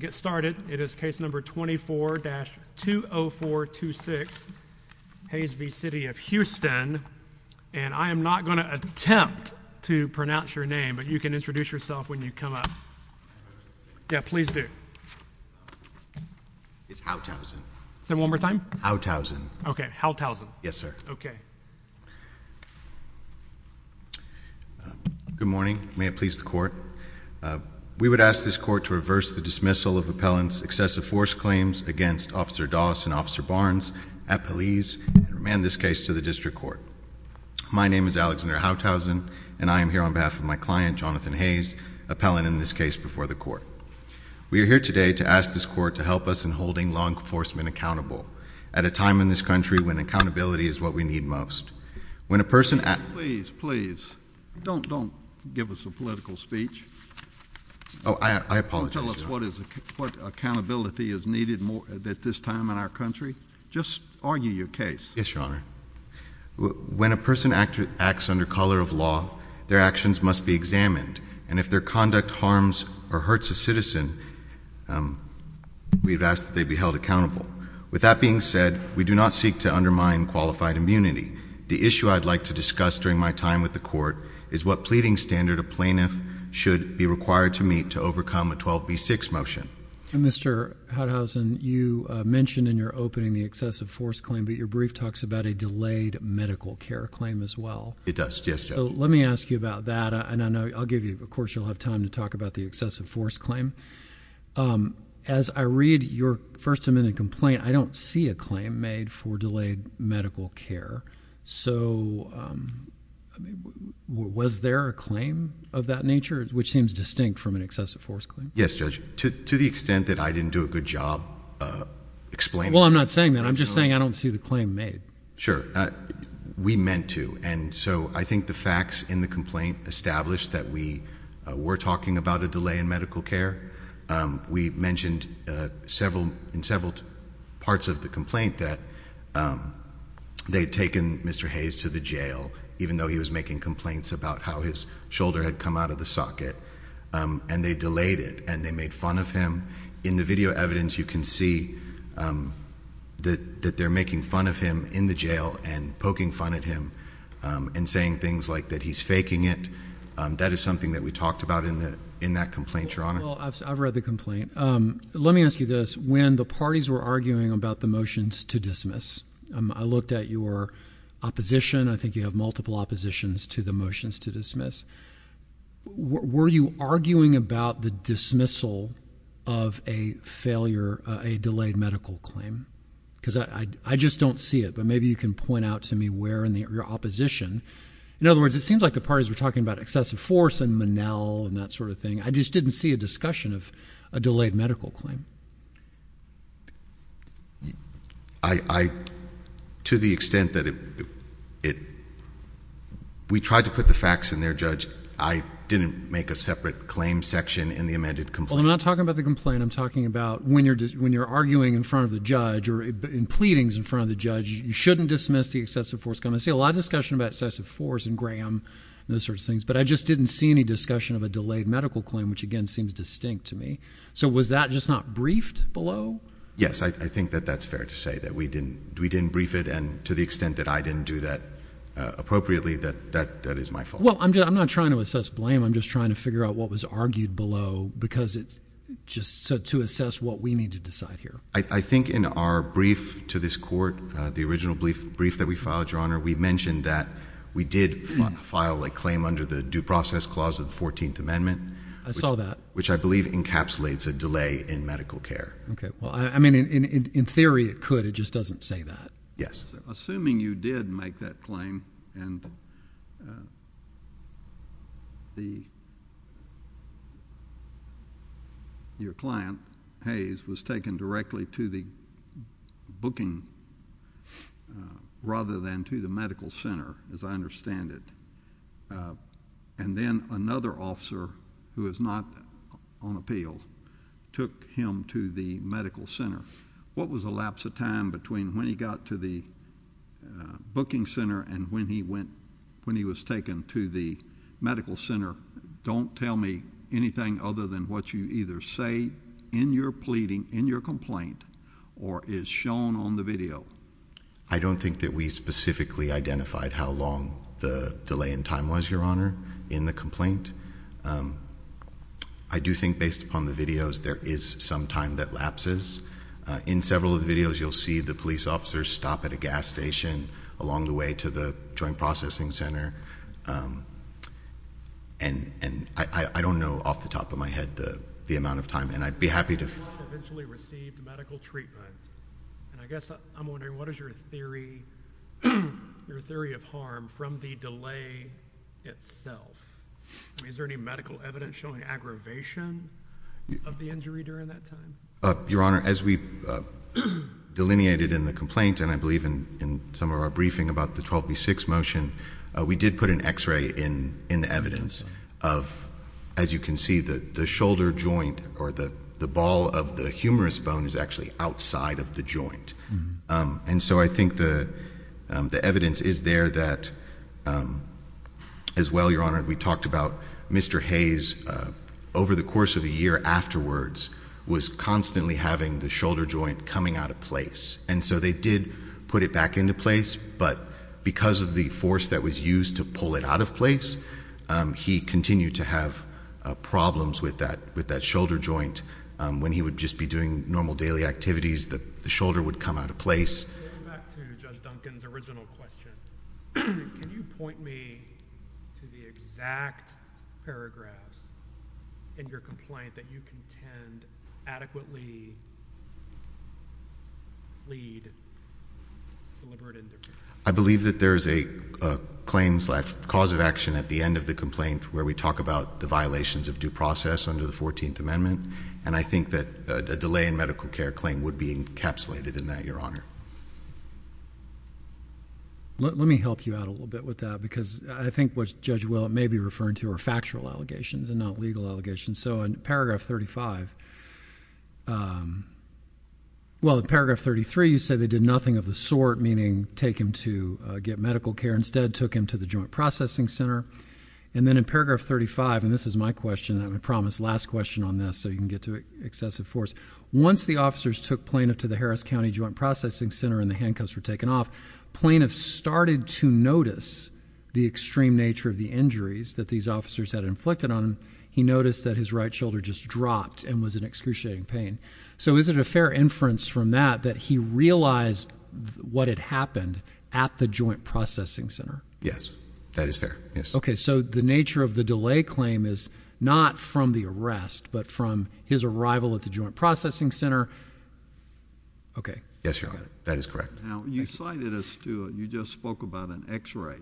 Get started, it is case number 24-20426, Hayes v. City of Houston, and I am not going to attempt to pronounce your name, but you can introduce yourself when you come up. Yeah, please do. It's Hauthausen. Say it one more time? Hauthausen. Okay, Hauthausen. Yes, sir. Okay. Good morning. May it please the court. We would ask this court to reverse the dismissal of appellant's excessive force claims against Officer Doss and Officer Barnes at police, and remand this case to the district court. My name is Alexander Hauthausen, and I am here on behalf of my client, Jonathan Hayes, appellant in this case before the court. We are here today to ask this court to help us in holding law enforcement accountable at a time in this country when accountability is what we need most. When a person at- Please, please. Don't give us a political speech. Oh, I apologize, Your Honor. Don't tell us what accountability is needed at this time in our country. Just argue your case. Yes, Your Honor. When a person acts under color of law, their actions must be examined, and if their conduct harms or hurts a citizen, we would ask that they be held accountable. With that being said, we do not seek to undermine qualified immunity. The issue I'd like to discuss during my time with the court is what pleading standard a plaintiff should be required to meet to overcome a 12B6 motion. Mr. Hauthausen, you mentioned in your opening the excessive force claim, but your brief talks about a delayed medical care claim as well. It does, yes, Judge. Let me ask you about that, and I'll give you, of course, you'll have time to talk about the excessive force claim. As I read your first amendment complaint, I don't see a claim made for delayed medical care, so was there a claim of that nature, which seems distinct from an excessive force claim? Yes, Judge. To the extent that I didn't do a good job explaining it... Well, I'm not saying that. I'm just saying I don't see the claim made. Sure. We meant to, and so I think the facts in the complaint established that we were talking about a delay in medical care. We mentioned in several parts of the complaint that they had taken Mr. Hayes to the jail, even though he was making complaints about how his shoulder had come out of the socket, and they delayed it, and they made fun of him. In the video evidence, you can see that they're making fun of him in the jail and poking fun at him and saying things like that he's faking it. That is something that we talked about in that complaint, Your Honor. Well, I've read the complaint. Let me ask you this. When the parties were arguing about the motions to dismiss, I looked at your opposition. I think you have multiple oppositions to the motions to dismiss. Were you arguing about the dismissal of a failure, a delayed medical claim? Because I just don't see it, but maybe you can point out to me where in your opposition. In other words, it seems like the parties were talking about excessive force and Manel and that sort of thing. I just didn't see a discussion of a delayed medical claim. To the extent that we tried to put the facts in there, Judge, I didn't make a separate claim section in the amended complaint. Well, I'm not talking about the complaint. I'm talking about when you're arguing in front of the judge or in pleadings in front of the judge, you shouldn't dismiss the excessive force. I see a lot of discussion about excessive force and Graham and those sorts of things, but I just didn't see any discussion of a delayed medical claim, which again seems distinct to me. So was that just not briefed below? I think that that's fair to say that we didn't brief it, and to the extent that I didn't do that appropriately, that is my fault. Well, I'm not trying to assess blame. I'm just trying to figure out what was argued below because it's just to assess what we need to decide here. I think in our brief to this Court, the original brief that we filed, Your Honor, we mentioned that we did file a claim under the Due Process Clause of the 14th Amendment. I saw that. Which I believe encapsulates a delay in medical care. Okay. Well, I mean, in theory it could. It just doesn't say that. Yes. Assuming you did make that claim, and your client, Hayes, was taken directly to the booking rather than to the medical center, as I understand it, and then another officer who is not on appeal took him to the medical center, what was the lapse of time between when he got to the booking center and when he was taken to the medical center? Don't tell me anything other than what you either say in your pleading, in your complaint, or is shown on the video. I don't think that we specifically identified how long the delay in time was, Your Honor, in the complaint. I do think based upon the videos, there is some time that lapses. In several of the videos, you'll see the police officers stop at a gas station along the way to the joint processing center, and I don't know off the top of my head the amount of time. And I'd be happy to- Your client eventually received medical treatment. And I guess I'm wondering, what is your theory of harm from the delay itself? I mean, is there any medical evidence showing aggravation of the injury during that time? Your Honor, as we delineated in the complaint, and I believe in some of our briefing about the 12B6 motion, we did put an x-ray in the evidence of, as you can see, the shoulder joint or the ball of the humerus bone is actually outside of the joint. And so I think the evidence is there that, as well, Your Honor, we talked about Mr. Hayes, over the course of a year afterwards, was constantly having the shoulder joint coming out of place. And so they did put it back into place, but because of the force that was used to pull it out of place, he continued to have problems with that shoulder joint. When he would just be doing normal daily activities, the shoulder would come out of place. Going back to Judge Duncan's original question, can you point me to the exact paragraphs in your complaint that you contend adequately lead deliberate indifference? I believe that there is a claims life cause of action at the end of the complaint where we talk about the violations of due process under the 14th Amendment. And I think that a delay in medical care claim would be encapsulated in that, Your Honor. Let me help you out a little bit with that, because I think what Judge Willett may be referring to are factual allegations and not legal allegations. So in paragraph 35, well, in paragraph 33, you say they did nothing of the sort, meaning take him to get medical care, instead took him to the joint processing center. And then in paragraph 35, and this is my question, and I promised last question on this, so you can get to excessive force, once the officers took plaintiff to the Harris County Joint Processing Center and the handcuffs were taken off, plaintiff started to notice the extreme nature of the injuries that these officers had inflicted on him. He noticed that his right shoulder just dropped and was in excruciating pain. So is it a fair inference from that that he realized what had happened at the joint processing center? Yes, that is fair. Yes. So it is not from the arrest, but from his arrival at the joint processing center. Okay. Yes, Your Honor. That is correct. Now, you cited us to, you just spoke about an x-ray,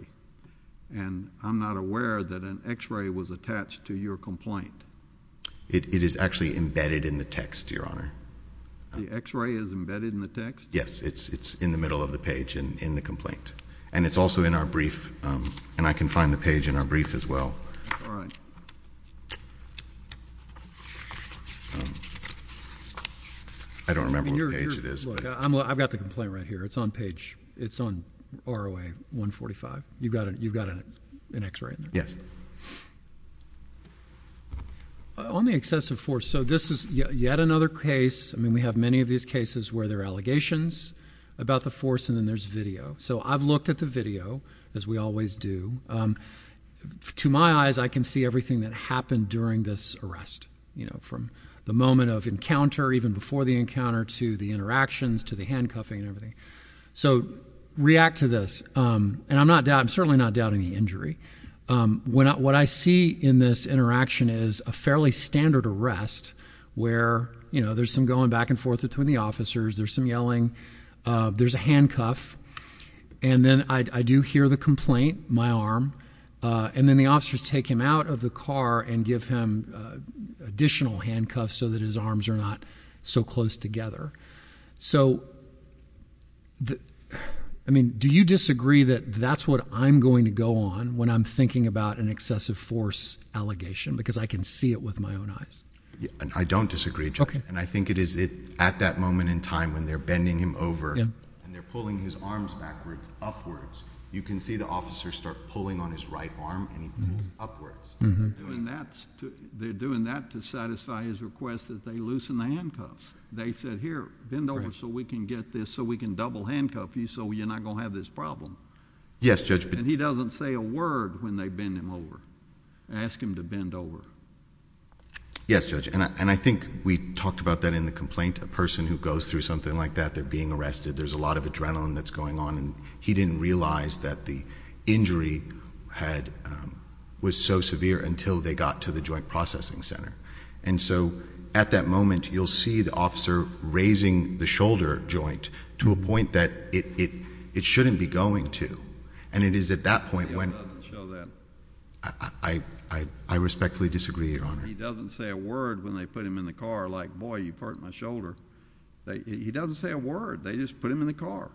and I'm not aware that an x-ray was attached to your complaint. It is actually embedded in the text, Your Honor. The x-ray is embedded in the text? Yes. It's in the middle of the page and in the complaint. And it's also in our brief, and I can find the page in our brief as well. All right. I don't remember what page it is, but I've got the complaint right here. It's on page, it's on ROA 145. You've got an x-ray in there? Yes. On the excessive force, so this is yet another case, I mean, we have many of these cases where there are allegations about the force, and then there's video. So I've looked at the video, as we always do. To my eyes, I can see everything that happened during this arrest, you know, from the moment of encounter, even before the encounter, to the interactions, to the handcuffing and everything. So react to this. And I'm not, I'm certainly not doubting the injury. What I see in this interaction is a fairly standard arrest where, you know, there's some going back and forth between the officers, there's some yelling, there's a handcuff. And then I do hear the complaint, my arm, and then the officers take him out of the car and give him additional handcuffs so that his arms are not so close together. So I mean, do you disagree that that's what I'm going to go on when I'm thinking about an excessive force allegation? Because I can see it with my own eyes. I don't disagree, and I think it is at that moment in time when they're bending him over and they're pulling his arms backwards, upwards. You can see the officer start pulling on his right arm and he pulls upwards. They're doing that to satisfy his request that they loosen the handcuffs. They said, here, bend over so we can get this, so we can double handcuff you so you're not going to have this problem. Yes, Judge. And he doesn't say a word when they bend him over, ask him to bend over. Yes, Judge. And I think we talked about that in the complaint, a person who goes through something like that, they're being arrested. There's a lot of adrenaline that's going on, and he didn't realize that the injury was so severe until they got to the joint processing center. And so at that moment, you'll see the officer raising the shoulder joint to a point that it shouldn't be going to. And it is at that point when I respectfully disagree, Your Honor. He doesn't say a word when they put him in the car, like, boy, you hurt my shoulder. He doesn't say a word. They just put him in the car.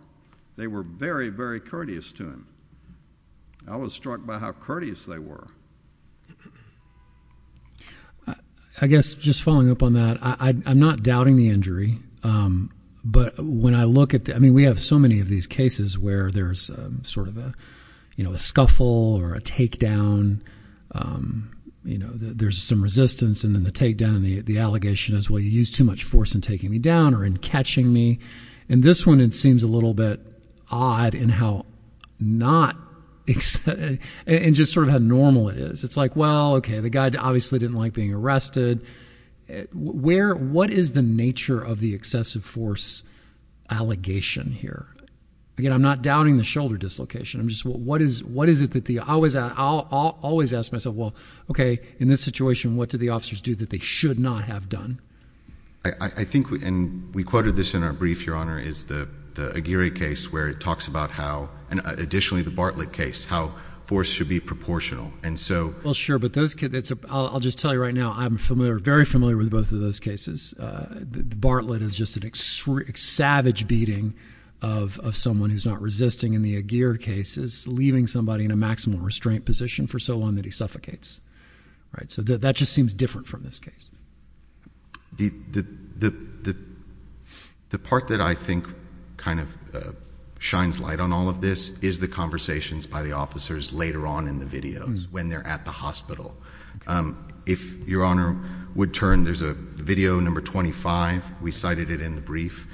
They were very, very courteous to him. I was struck by how courteous they were. I guess just following up on that, I'm not doubting the injury, but when I look at... I mean, we have so many of these cases where there's sort of a scuffle or a takedown. There's some resistance, and then the takedown and the allegation is, well, you used too much force in taking me down or in catching me. And this one, it seems a little bit odd in how not... and just sort of how normal it is. It's like, well, okay, the guy obviously didn't like being arrested. What is the nature of the excessive force allegation here? Again, I'm not doubting the shoulder dislocation. I'm just... what is it that the... I always ask myself, well, okay, in this situation, what do the officers do that they should not have done? I think... and we quoted this in our brief, Your Honor, is the Aguirre case where it talks about how... and additionally, the Bartlett case, how force should be proportional. And so... Well, sure. But those... I'll just tell you right now, I'm familiar... very familiar with both of those cases. The Bartlett is just a savage beating of someone who's not resisting, and the Aguirre case is leaving somebody in a maximal restraint position for so long that he suffocates, right? So that just seems different from this case. The part that I think kind of shines light on all of this is the conversations by the officers later on in the videos when they're at the hospital. If Your Honor would turn, there's a video, number 25. We cited it in the brief.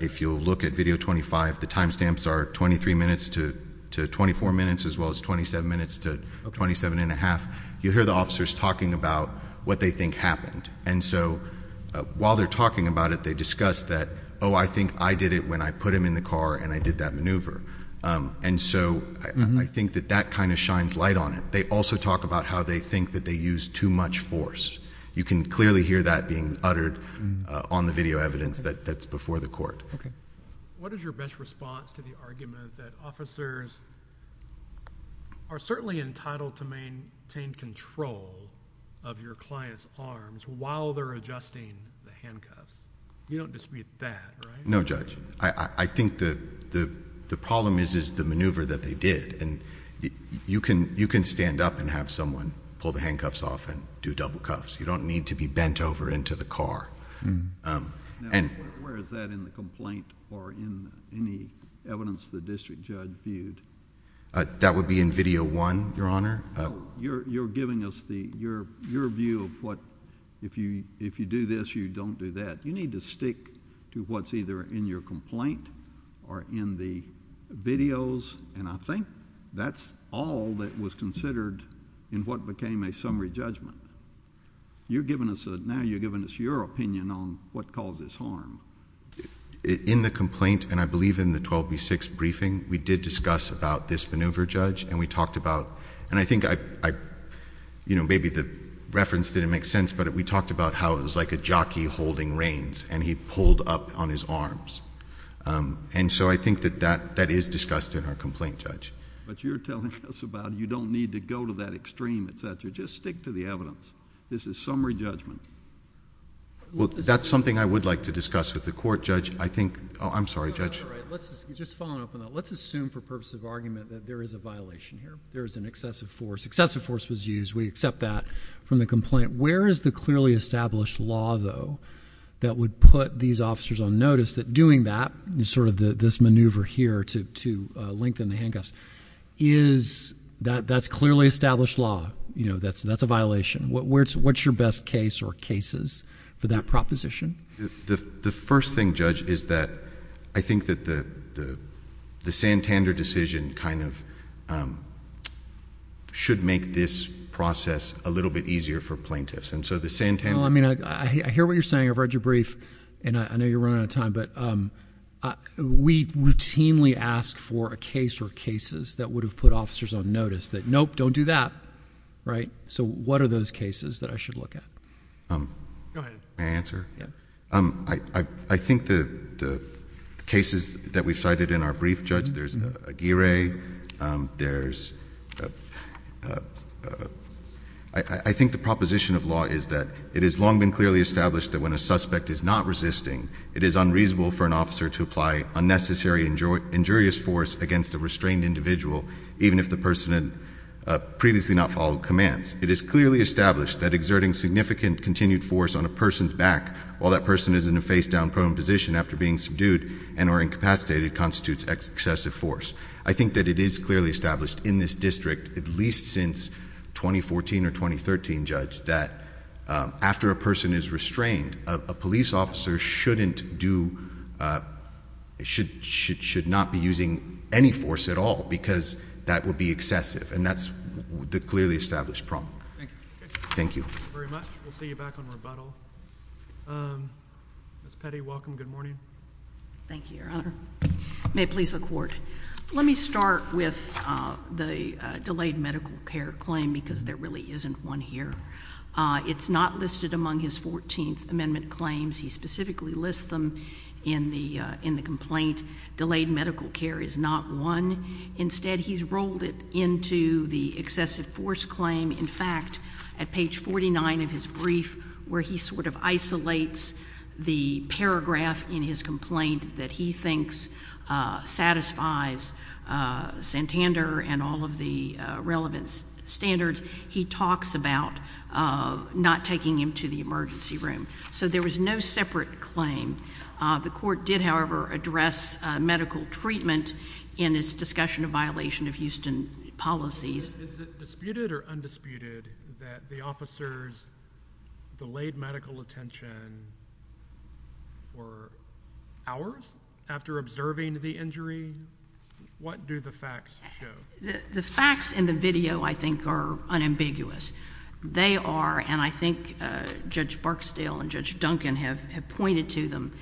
If you'll look at video 25, the time stamps are 23 minutes to 24 minutes, as well as 27 minutes to 27 and a half. You'll hear the officers talking about what they think happened. And so, while they're talking about it, they discuss that, oh, I think I did it when I put him in the car and I did that maneuver. And so, I think that that kind of shines light on it. They also talk about how they think that they used too much force. You can clearly hear that being uttered on the video evidence that's before the court. Okay. What is your best response to the argument that officers are certainly entitled to maintain control of your client's arms while they're adjusting the handcuffs? You don't dispute that, right? No, Judge. I think the problem is the maneuver that they did. You can stand up and have someone pull the handcuffs off and do double cuffs. You don't need to be bent over into the car. Now, where is that in the complaint or in any evidence the district judge viewed? That would be in video one, Your Honor. You're giving us your view of what, if you do this, you don't do that. You need to stick to what's either in your complaint or in the videos, and I think that's all that was considered in what became a summary judgment. Now, you're giving us your opinion on what causes harm. In the complaint, and I believe in the 12B6 briefing, we did discuss about this maneuver, Judge, and we talked about... and I think maybe the reference didn't make sense, but we talked about how it was like a jockey holding reins, and he pulled up on his arms. And so I think that that is discussed in our complaint, Judge. But you're telling us about you don't need to go to that extreme, et cetera. You just stick to the evidence. This is summary judgment. Well, that's something I would like to discuss with the court, Judge. I think... I'm sorry, Judge. All right. Let's just follow up on that. Let's assume for purpose of argument that there is a violation here. There is an excessive force. Excessive force was used. We accept that from the complaint. Where is the clearly established law, though, that would put these officers on notice that doing that, sort of this maneuver here to lengthen the handcuffs, is... that's clearly established law. You know, that's a violation. What's your best case or cases for that proposition? The first thing, Judge, is that I think that the Santander decision kind of should make this process a little bit easier for plaintiffs. And so the Santander... Well, I mean, I hear what you're saying. I've read your brief, and I know you're running out of time, but we routinely ask for a case or cases that would have put officers on notice that, nope, don't do that, right? So what are those cases that I should look at? Go ahead. May I answer? Yeah. I think the cases that we've cited in our brief, Judge, there's Aguirre. I think the proposition of law is that it has long been clearly established that when a suspect is not resisting, it is unreasonable for an officer to apply unnecessary injurious force against a restrained individual, even if the person had previously not followed commands. It is clearly established that exerting significant continued force on a person's back while that person is in a face-down prone position after being subdued and or incapacitated constitutes excessive force. I think that it is clearly established in this district, at least since 2014 or 2013, Judge, that after a person is restrained, a police officer shouldn't do, should not be using any force at all because that would be excessive, and that's the clearly established problem. Thank you. Thank you very much. We'll see you back on rebuttal. Ms. Petty, welcome. Good morning. Thank you, Your Honor. May it please the Court. Let me start with the delayed medical care claim because there really isn't one here. It's not listed among his 14th Amendment claims. He specifically lists them in the complaint. Delayed medical care is not one. Instead, he's rolled it into the excessive force claim. In fact, at page 49 of his brief, where he sort of isolates the paragraph in his complaint that he thinks satisfies Santander and all of the relevant standards, he talks about not taking him to the emergency room. So there was no separate claim. The Court did, however, address medical treatment in its discussion of violation of Houston policies. Is it disputed or undisputed that the officers delayed medical attention for hours after observing the injury? What do the facts show? The facts in the video, I think, are unambiguous. They are, and I think Judge Barksdale and Judge Duncan have pointed to them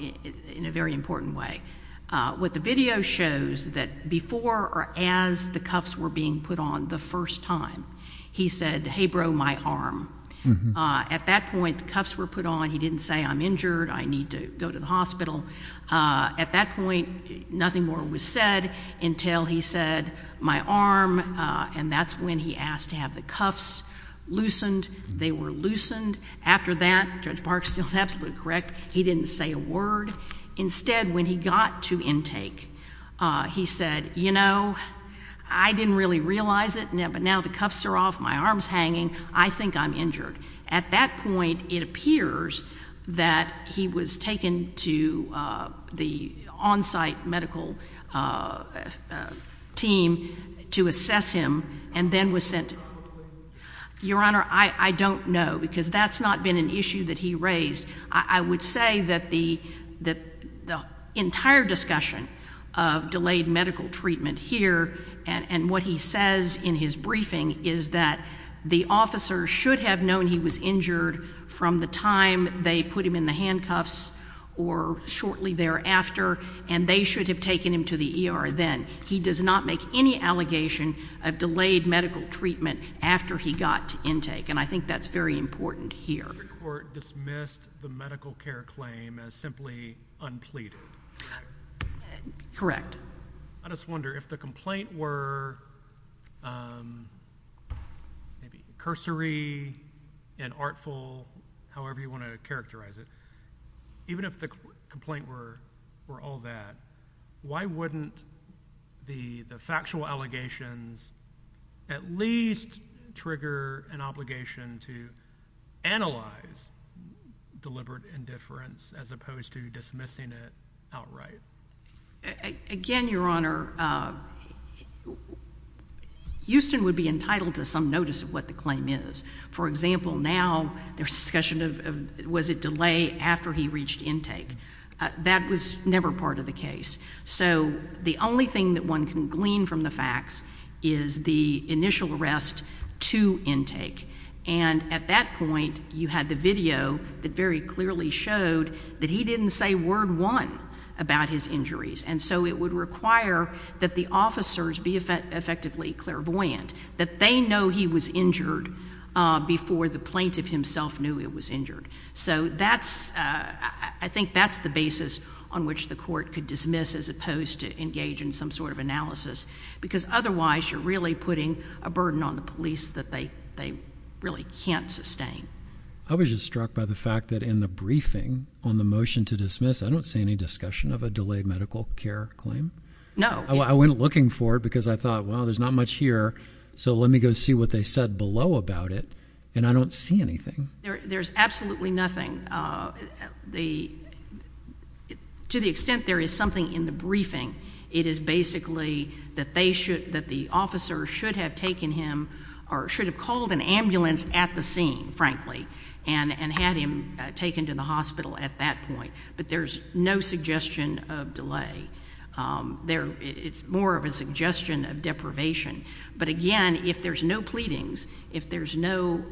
in a very important way. What the video shows, that before or as the cuffs were being put on the first time, he said, hey, bro, my arm. At that point, the cuffs were put on, he didn't say, I'm injured, I need to go to the hospital. At that point, nothing more was said until he said, my arm, and that's when he asked to have the cuffs loosened. They were loosened. After that, Judge Barksdale is absolutely correct, he didn't say a word. Instead, when he got to intake, he said, you know, I didn't really realize it, but now the cuffs are off, my arm's hanging, I think I'm injured. At that point, it appears that he was taken to the on-site medical team to assess him and then was sent to the hospital. Your Honor, I don't know, because that's not been an issue that he raised. I would say that the entire discussion of delayed medical treatment here and what he says in his briefing is that the officer should have known he was injured from the time they put him in the handcuffs or shortly thereafter, and they should have taken him to the ER then. He does not make any allegation of delayed medical treatment after he got to intake, and I think that's very important here. The Supreme Court dismissed the medical care claim as simply unpleaded. Correct. I just wonder, if the complaint were maybe cursory and artful, however you want to characterize it, even if the complaint were all that, why wouldn't the factual allegations at least trigger an obligation to analyze deliberate indifference as opposed to dismissing it outright? Again, Your Honor, Houston would be entitled to some notice of what the claim is. For example, now, there's discussion of was it delay after he reached intake. That was never part of the case, so the only thing that one can glean from the facts is the initial arrest to intake, and at that point, you had the video that very clearly showed that he didn't say word one about his injuries, and so it would require that the officers be effectively clairvoyant, that they know he was injured before the plaintiff himself knew he was injured. So that's, I think that's the basis on which the court could dismiss as opposed to engage in some sort of analysis, because otherwise, you're really putting a burden on the police that they really can't sustain. I was just struck by the fact that in the briefing on the motion to dismiss, I don't see any discussion of a delayed medical care claim. No. I went looking for it because I thought, well, there's not much here, so let me go see what they said below about it, and I don't see anything. There's absolutely nothing. To the extent there is something in the briefing, it is basically that the officer should have taken him, or should have called an ambulance at the scene, frankly, and had him taken to the hospital at that point, but there's no suggestion of delay. It's more of a suggestion of deprivation, but again, if there's no pleadings, if there's no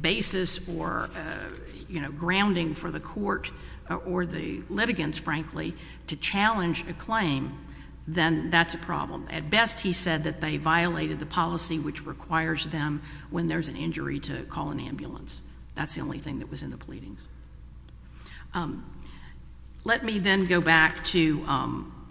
basis or grounding for the court or the litigants, frankly, to challenge a claim, then that's a problem. At best, he said that they violated the policy which requires them when there's an injury to call an ambulance. That's the only thing that was in the pleadings. Let me then go back to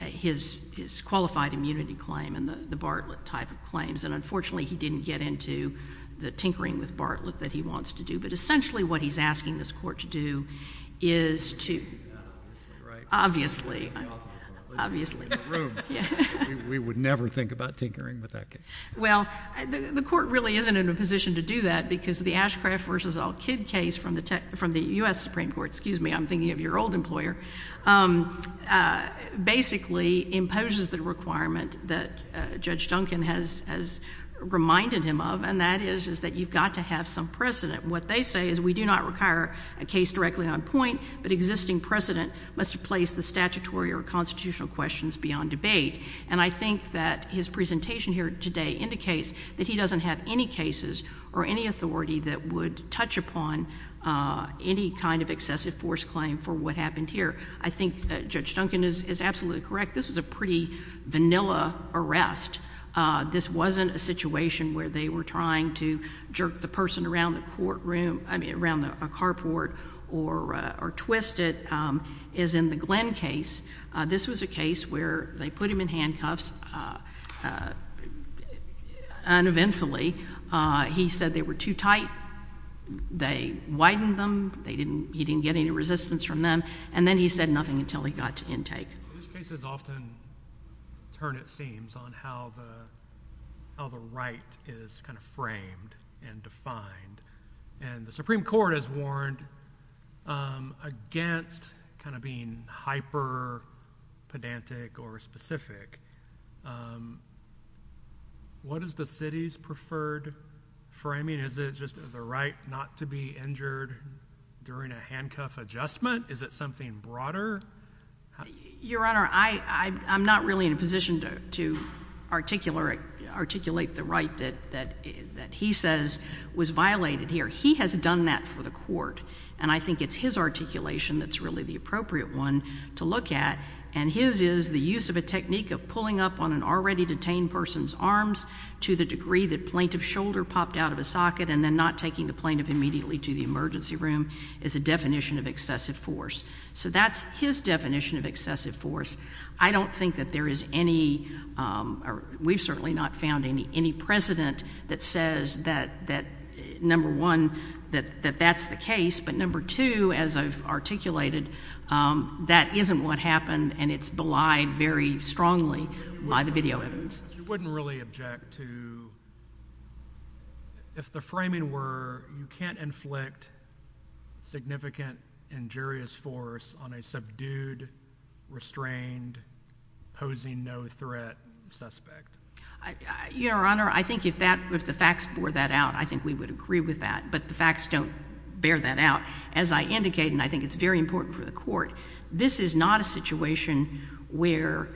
his qualified immunity claim and the Bartlett type of claims, and unfortunately, he didn't get into the tinkering with Bartlett that he wants to do, but essentially what he's asking this court to do is to... In the room. We would never think about tinkering with that case. Well, the court really isn't in a position to do that because the Ashcraft v. Al-Kid case from the U.S. Supreme Court... excuse me, I'm thinking of your old employer... basically imposes the requirement that Judge Duncan has reminded him of, and that is that you've got to have some precedent. What they say is we do not require a case directly on point, but existing precedent must place the statutory or constitutional questions beyond debate. And I think that his presentation here today indicates that he doesn't have any cases or any authority that would touch upon any kind of excessive force claim for what happened here. I think Judge Duncan is absolutely correct. This was a pretty vanilla arrest. This wasn't a situation where they were trying to jerk the person around a carport or twist it. As in the Glenn case, this was a case where they put him in handcuffs uneventfully. He said they were too tight, they widened them, he didn't get any resistance from them, and then he said nothing until he got to intake. These cases often turn, it seems, on how the right is kind of framed and defined. And the Supreme Court has warned against kind of being hyper-pedantic or specific. What is the city's preferred framing? Is it just the right not to be injured during a handcuff adjustment? Is it something broader? Your Honor, I'm not really in a position to articulate the right that he says was violated here. He has done that for the court. And I think it's his articulation that's really the appropriate one to look at. And his is the use of a technique of pulling up on an already detained person's arms to the degree that plaintiff's shoulder popped out of a socket and then not taking the plaintiff immediately to the emergency room is a definition of excessive force. So that's his definition of excessive force. I don't think that there is any, we've certainly not found any precedent that says that, number one, that that's the case, but number two, as I've articulated, that isn't what happened and it's belied very strongly by the video evidence. You wouldn't really object to, if the framing were you can't inflict significant injurious force on a subdued, restrained, posing no threat suspect. Your Honor, I think if the facts bore that out, I think we would agree with that. But the facts don't bear that out. As I indicated, and I think it's very important for the court, this is not a situation where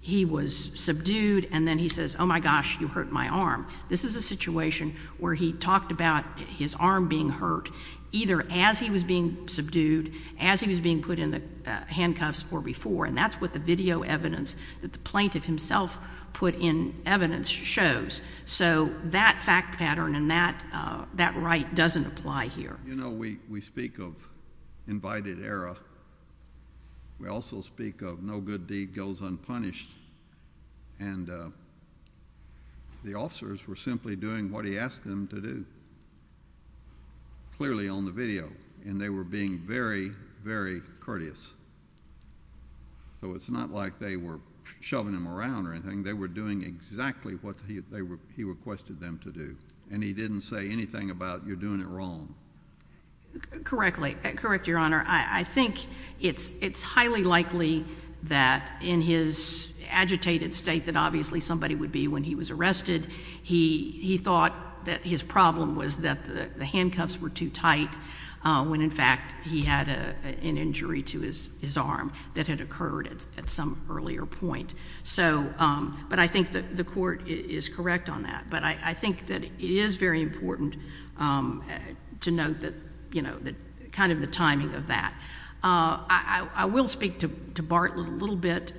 he was subdued and then he says, oh my gosh, you hurt my arm. This is a situation where he talked about his arm being hurt either as he was being subdued, as he was being put in the handcuffs or before, and that's what the video evidence that the plaintiff himself put in evidence shows. So that fact pattern and that right doesn't apply here. You know, we speak of invited error. We also speak of no good deed goes unpunished. And the officers were simply doing what he asked them to do, clearly on the video, and they were being very, very courteous. So it's not like they were shoving him around or anything. They were doing exactly what he requested them to do, and he didn't say anything about you're doing it wrong. Correctly. Correct, Your Honor. I think it's highly likely that in his agitated state that obviously somebody would be when he was arrested, he thought that his problem was that the handcuffs were too tight when in fact he had an injury to his arm that had occurred at some earlier point. But I think the court is correct on that. But I think that it is very important to note that, you know, kind of the timing of that. I will speak to Bartlett a little bit,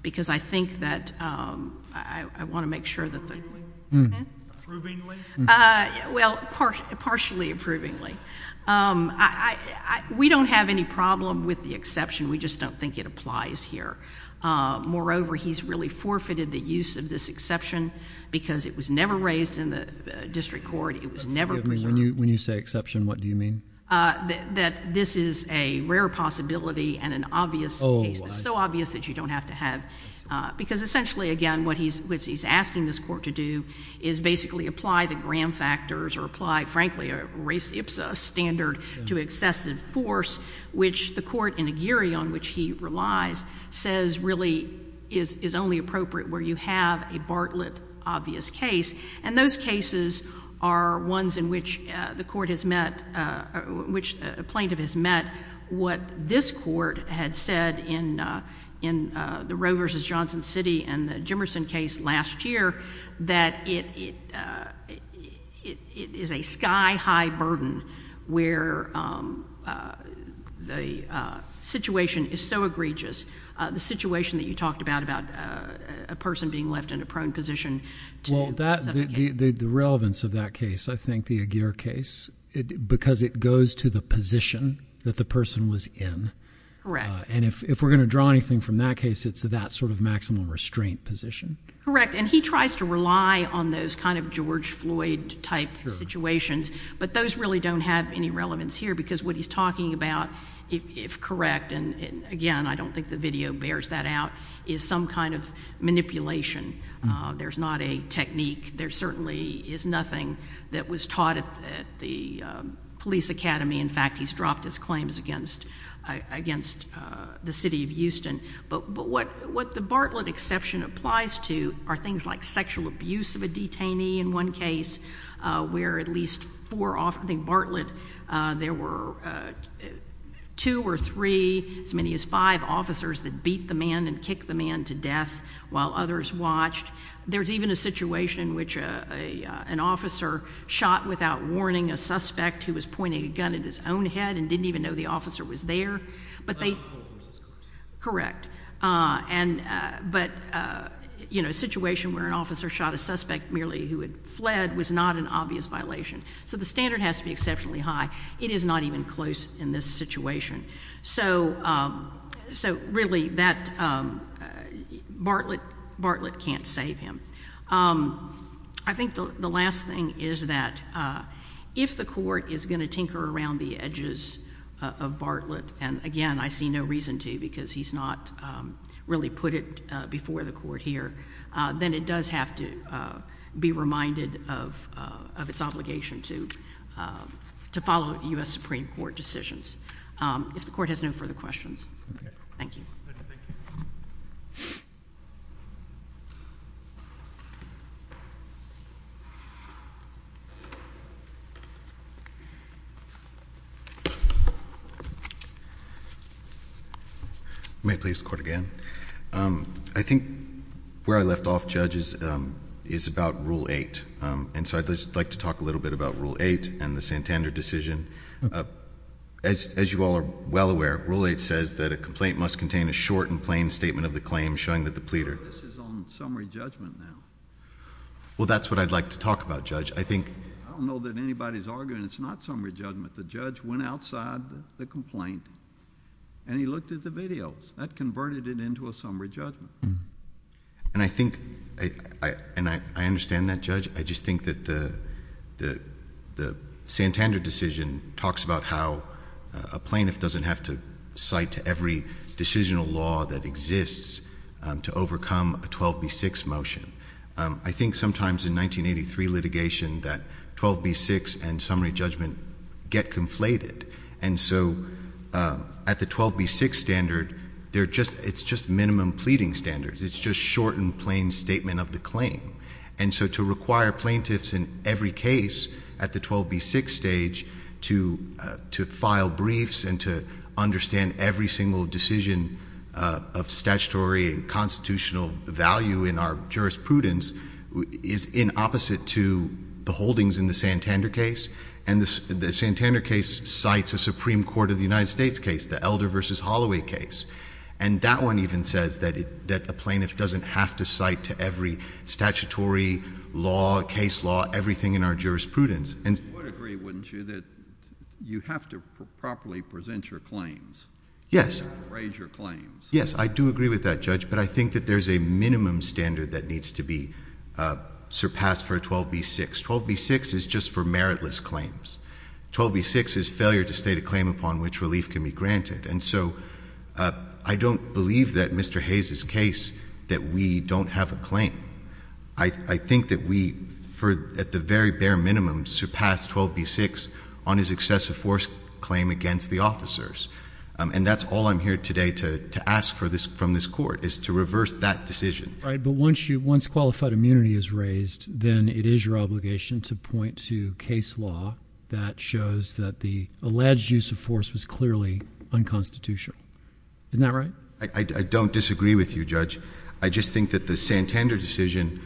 because I think that I want to make sure that the Approvingly? Well, partially approvingly. We don't have any problem with the exception. We just don't think it applies here. Moreover, he's really forfeited the use of this exception because it was never raised in the district court. It was never preserved. When you say exception, what do you mean? That this is a rare possibility and an obvious case, so obvious that you don't have to have. Because essentially, again, what he's asking this court to do is basically apply the Graham factors or apply, frankly, raise the IPSA standard to excessive force, which the court in Aguirre, on which he relies, says really is only appropriate where you have a Bartlett obvious case. And those cases are ones in which the court has met, which a plaintiff has met. What this court had said in the Roe v. Johnson City and the Jimmerson case last year, that it is a sky-high burden where the situation is so egregious, the situation that you talked about, about a person being left in a prone position to... Well, the relevance of that case, I think the Aguirre case, because it goes to the position that the person was in. Correct. And if we're going to draw anything from that case, it's that sort of maximum restraint position. Correct. And he tries to rely on those kind of George Floyd-type situations, but those really don't have any relevance here, because what he's talking about, if correct, and again, I don't think the video bears that out, is some kind of manipulation. There's not a technique. There certainly is nothing that was taught at the police academy. In fact, he's dropped his claims against the city of Houston. But what the Bartlett exception applies to are things like sexual abuse of a detainee in one case, where at least four... I think Bartlett, there were two or three, as many as five officers that beat the man and kicked the man to death while others watched. There's even a situation in which an officer shot without warning a suspect who was pointing a gun at his own head and didn't even know the officer was there. But they... It's not close. It's close. Correct. But, you know, a situation where an officer shot a suspect merely who had fled was not an obvious violation. So the standard has to be exceptionally high. It is not even close in this situation. So really, Bartlett can't save him. I think the last thing is that if the court is going to tinker around the edges of Bartlett, and again, I see no reason to, because he's not really put it before the court here, then it does have to be reminded of its obligation to follow U.S. Supreme Court decisions. If the court has no further questions, thank you. Thank you. May I please have the court again? I think where I left off, Judge, is about Rule 8. And so I'd just like to talk a little bit about Rule 8 and the Santander decision. As you all are well aware, Rule 8 says that a complaint must contain a short and plain statement of the claim showing that the pleader... But this is on summary judgment now. Well, that's what I'd like to talk about, Judge. I think... I don't know that anybody's arguing it's not summary judgment. The judge went outside the complaint, and he looked at the videos. That converted it into a summary judgment. And I think... and I understand that, Judge. I just think that the Santander decision talks about how a plaintiff doesn't have to cite to every decisional law that exists to overcome a 12B6 motion. I think sometimes in 1983 litigation that 12B6 and summary judgment get conflated. And so at the 12B6 standard, it's just minimum pleading standards. It's just short and plain statement of the claim. And so to require plaintiffs in every case at the 12B6 stage to file briefs and to understand every single decision of statutory and constitutional value in our jurisprudence is in opposite to the holdings in the Santander case. And the Santander case cites a Supreme Court of the United States case, the Elder v. Holloway case. And that one even says that a plaintiff doesn't have to cite to every statutory law, case law, everything in our jurisprudence. And... You would agree, wouldn't you, that you have to properly present your claims? Yes. Raise your claims. Yes. I do agree with that, Judge. But I think that there's a minimum standard that needs to be surpassed for a 12B6. 12B6 is just for meritless claims. 12B6 is failure to state a claim upon which relief can be granted. And so I don't believe that Mr. Hayes' case, that we don't have a claim. I think that we, at the very bare minimum, surpass 12B6 on his excessive force claim against the officers. And that's all I'm here today to ask from this Court, is to reverse that decision. Right. But once qualified immunity is raised, then it is your obligation to point to case law that shows that the alleged use of force was clearly unconstitutional. Isn't that right? I don't disagree with you, Judge. I just think that the Santander decision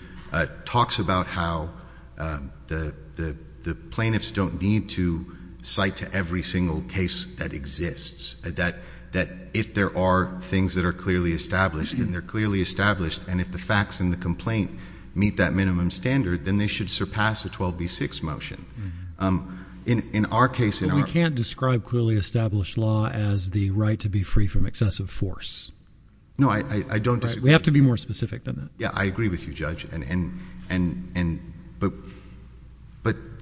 talks about how the plaintiffs don't need to cite to every single case that exists. That if there are things that are clearly established, and they're clearly established, and if the facts in the complaint meet that minimum standard, then they should surpass a 12B6 motion. In our case, in our— But we can't describe clearly established law as the right to be free from excessive force. No, I don't disagree. Right. We have to be more specific than that. Yeah. I agree with you, Judge.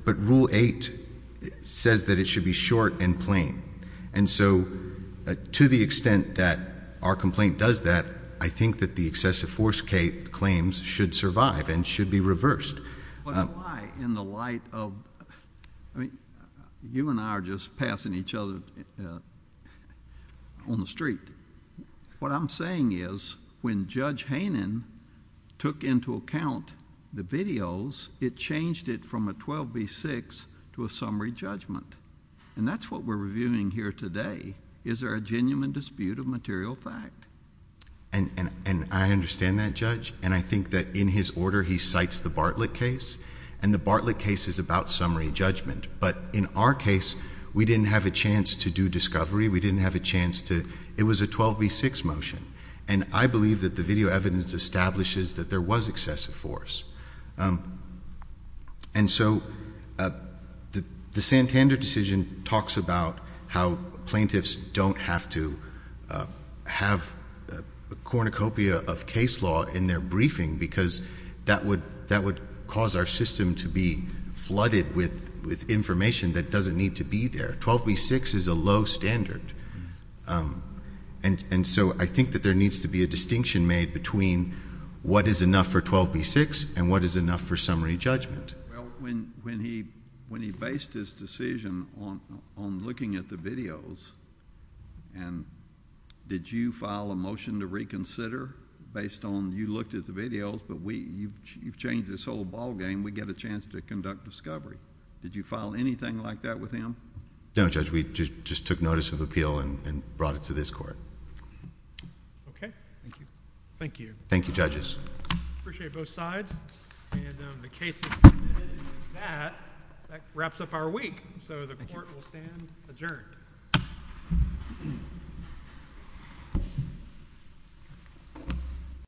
But Rule 8 says that it should be short and plain. And so, to the extent that our complaint does that, I think that the excessive force claims should survive and should be reversed. But why, in the light of—I mean, you and I are just passing each other on the street. What I'm saying is, when Judge Hanen took into account the videos, it changed it from a 12B6 to a summary judgment. And that's what we're reviewing here today. Is there a genuine dispute of material fact? And I understand that, Judge. And I think that, in his order, he cites the Bartlett case. And the Bartlett case is about summary judgment. But in our case, we didn't have a chance to do discovery. We didn't have a chance to—it was a 12B6 motion. And I believe that the video evidence establishes that there was excessive force. And so, the Santander decision talks about how plaintiffs don't have to have a cornucopia of case law in their briefing, because that would cause our system to be flooded with information that doesn't need to be there. 12B6 is a low standard. And so, I think that there needs to be a distinction made between what is enough for 12B6 and what is enough for summary judgment. Well, when he based his decision on looking at the videos, and did you file a motion to reconsider, based on you looked at the videos, but you've changed this whole ballgame, we get a chance to conduct discovery. Did you file anything like that with him? No, Judge. We just took notice of appeal and brought it to this Court. Okay. Thank you. Thank you. Thank you, Judges. I appreciate both sides. And the case is submitted. And with that, that wraps up our week. So, the Court will stand adjourned.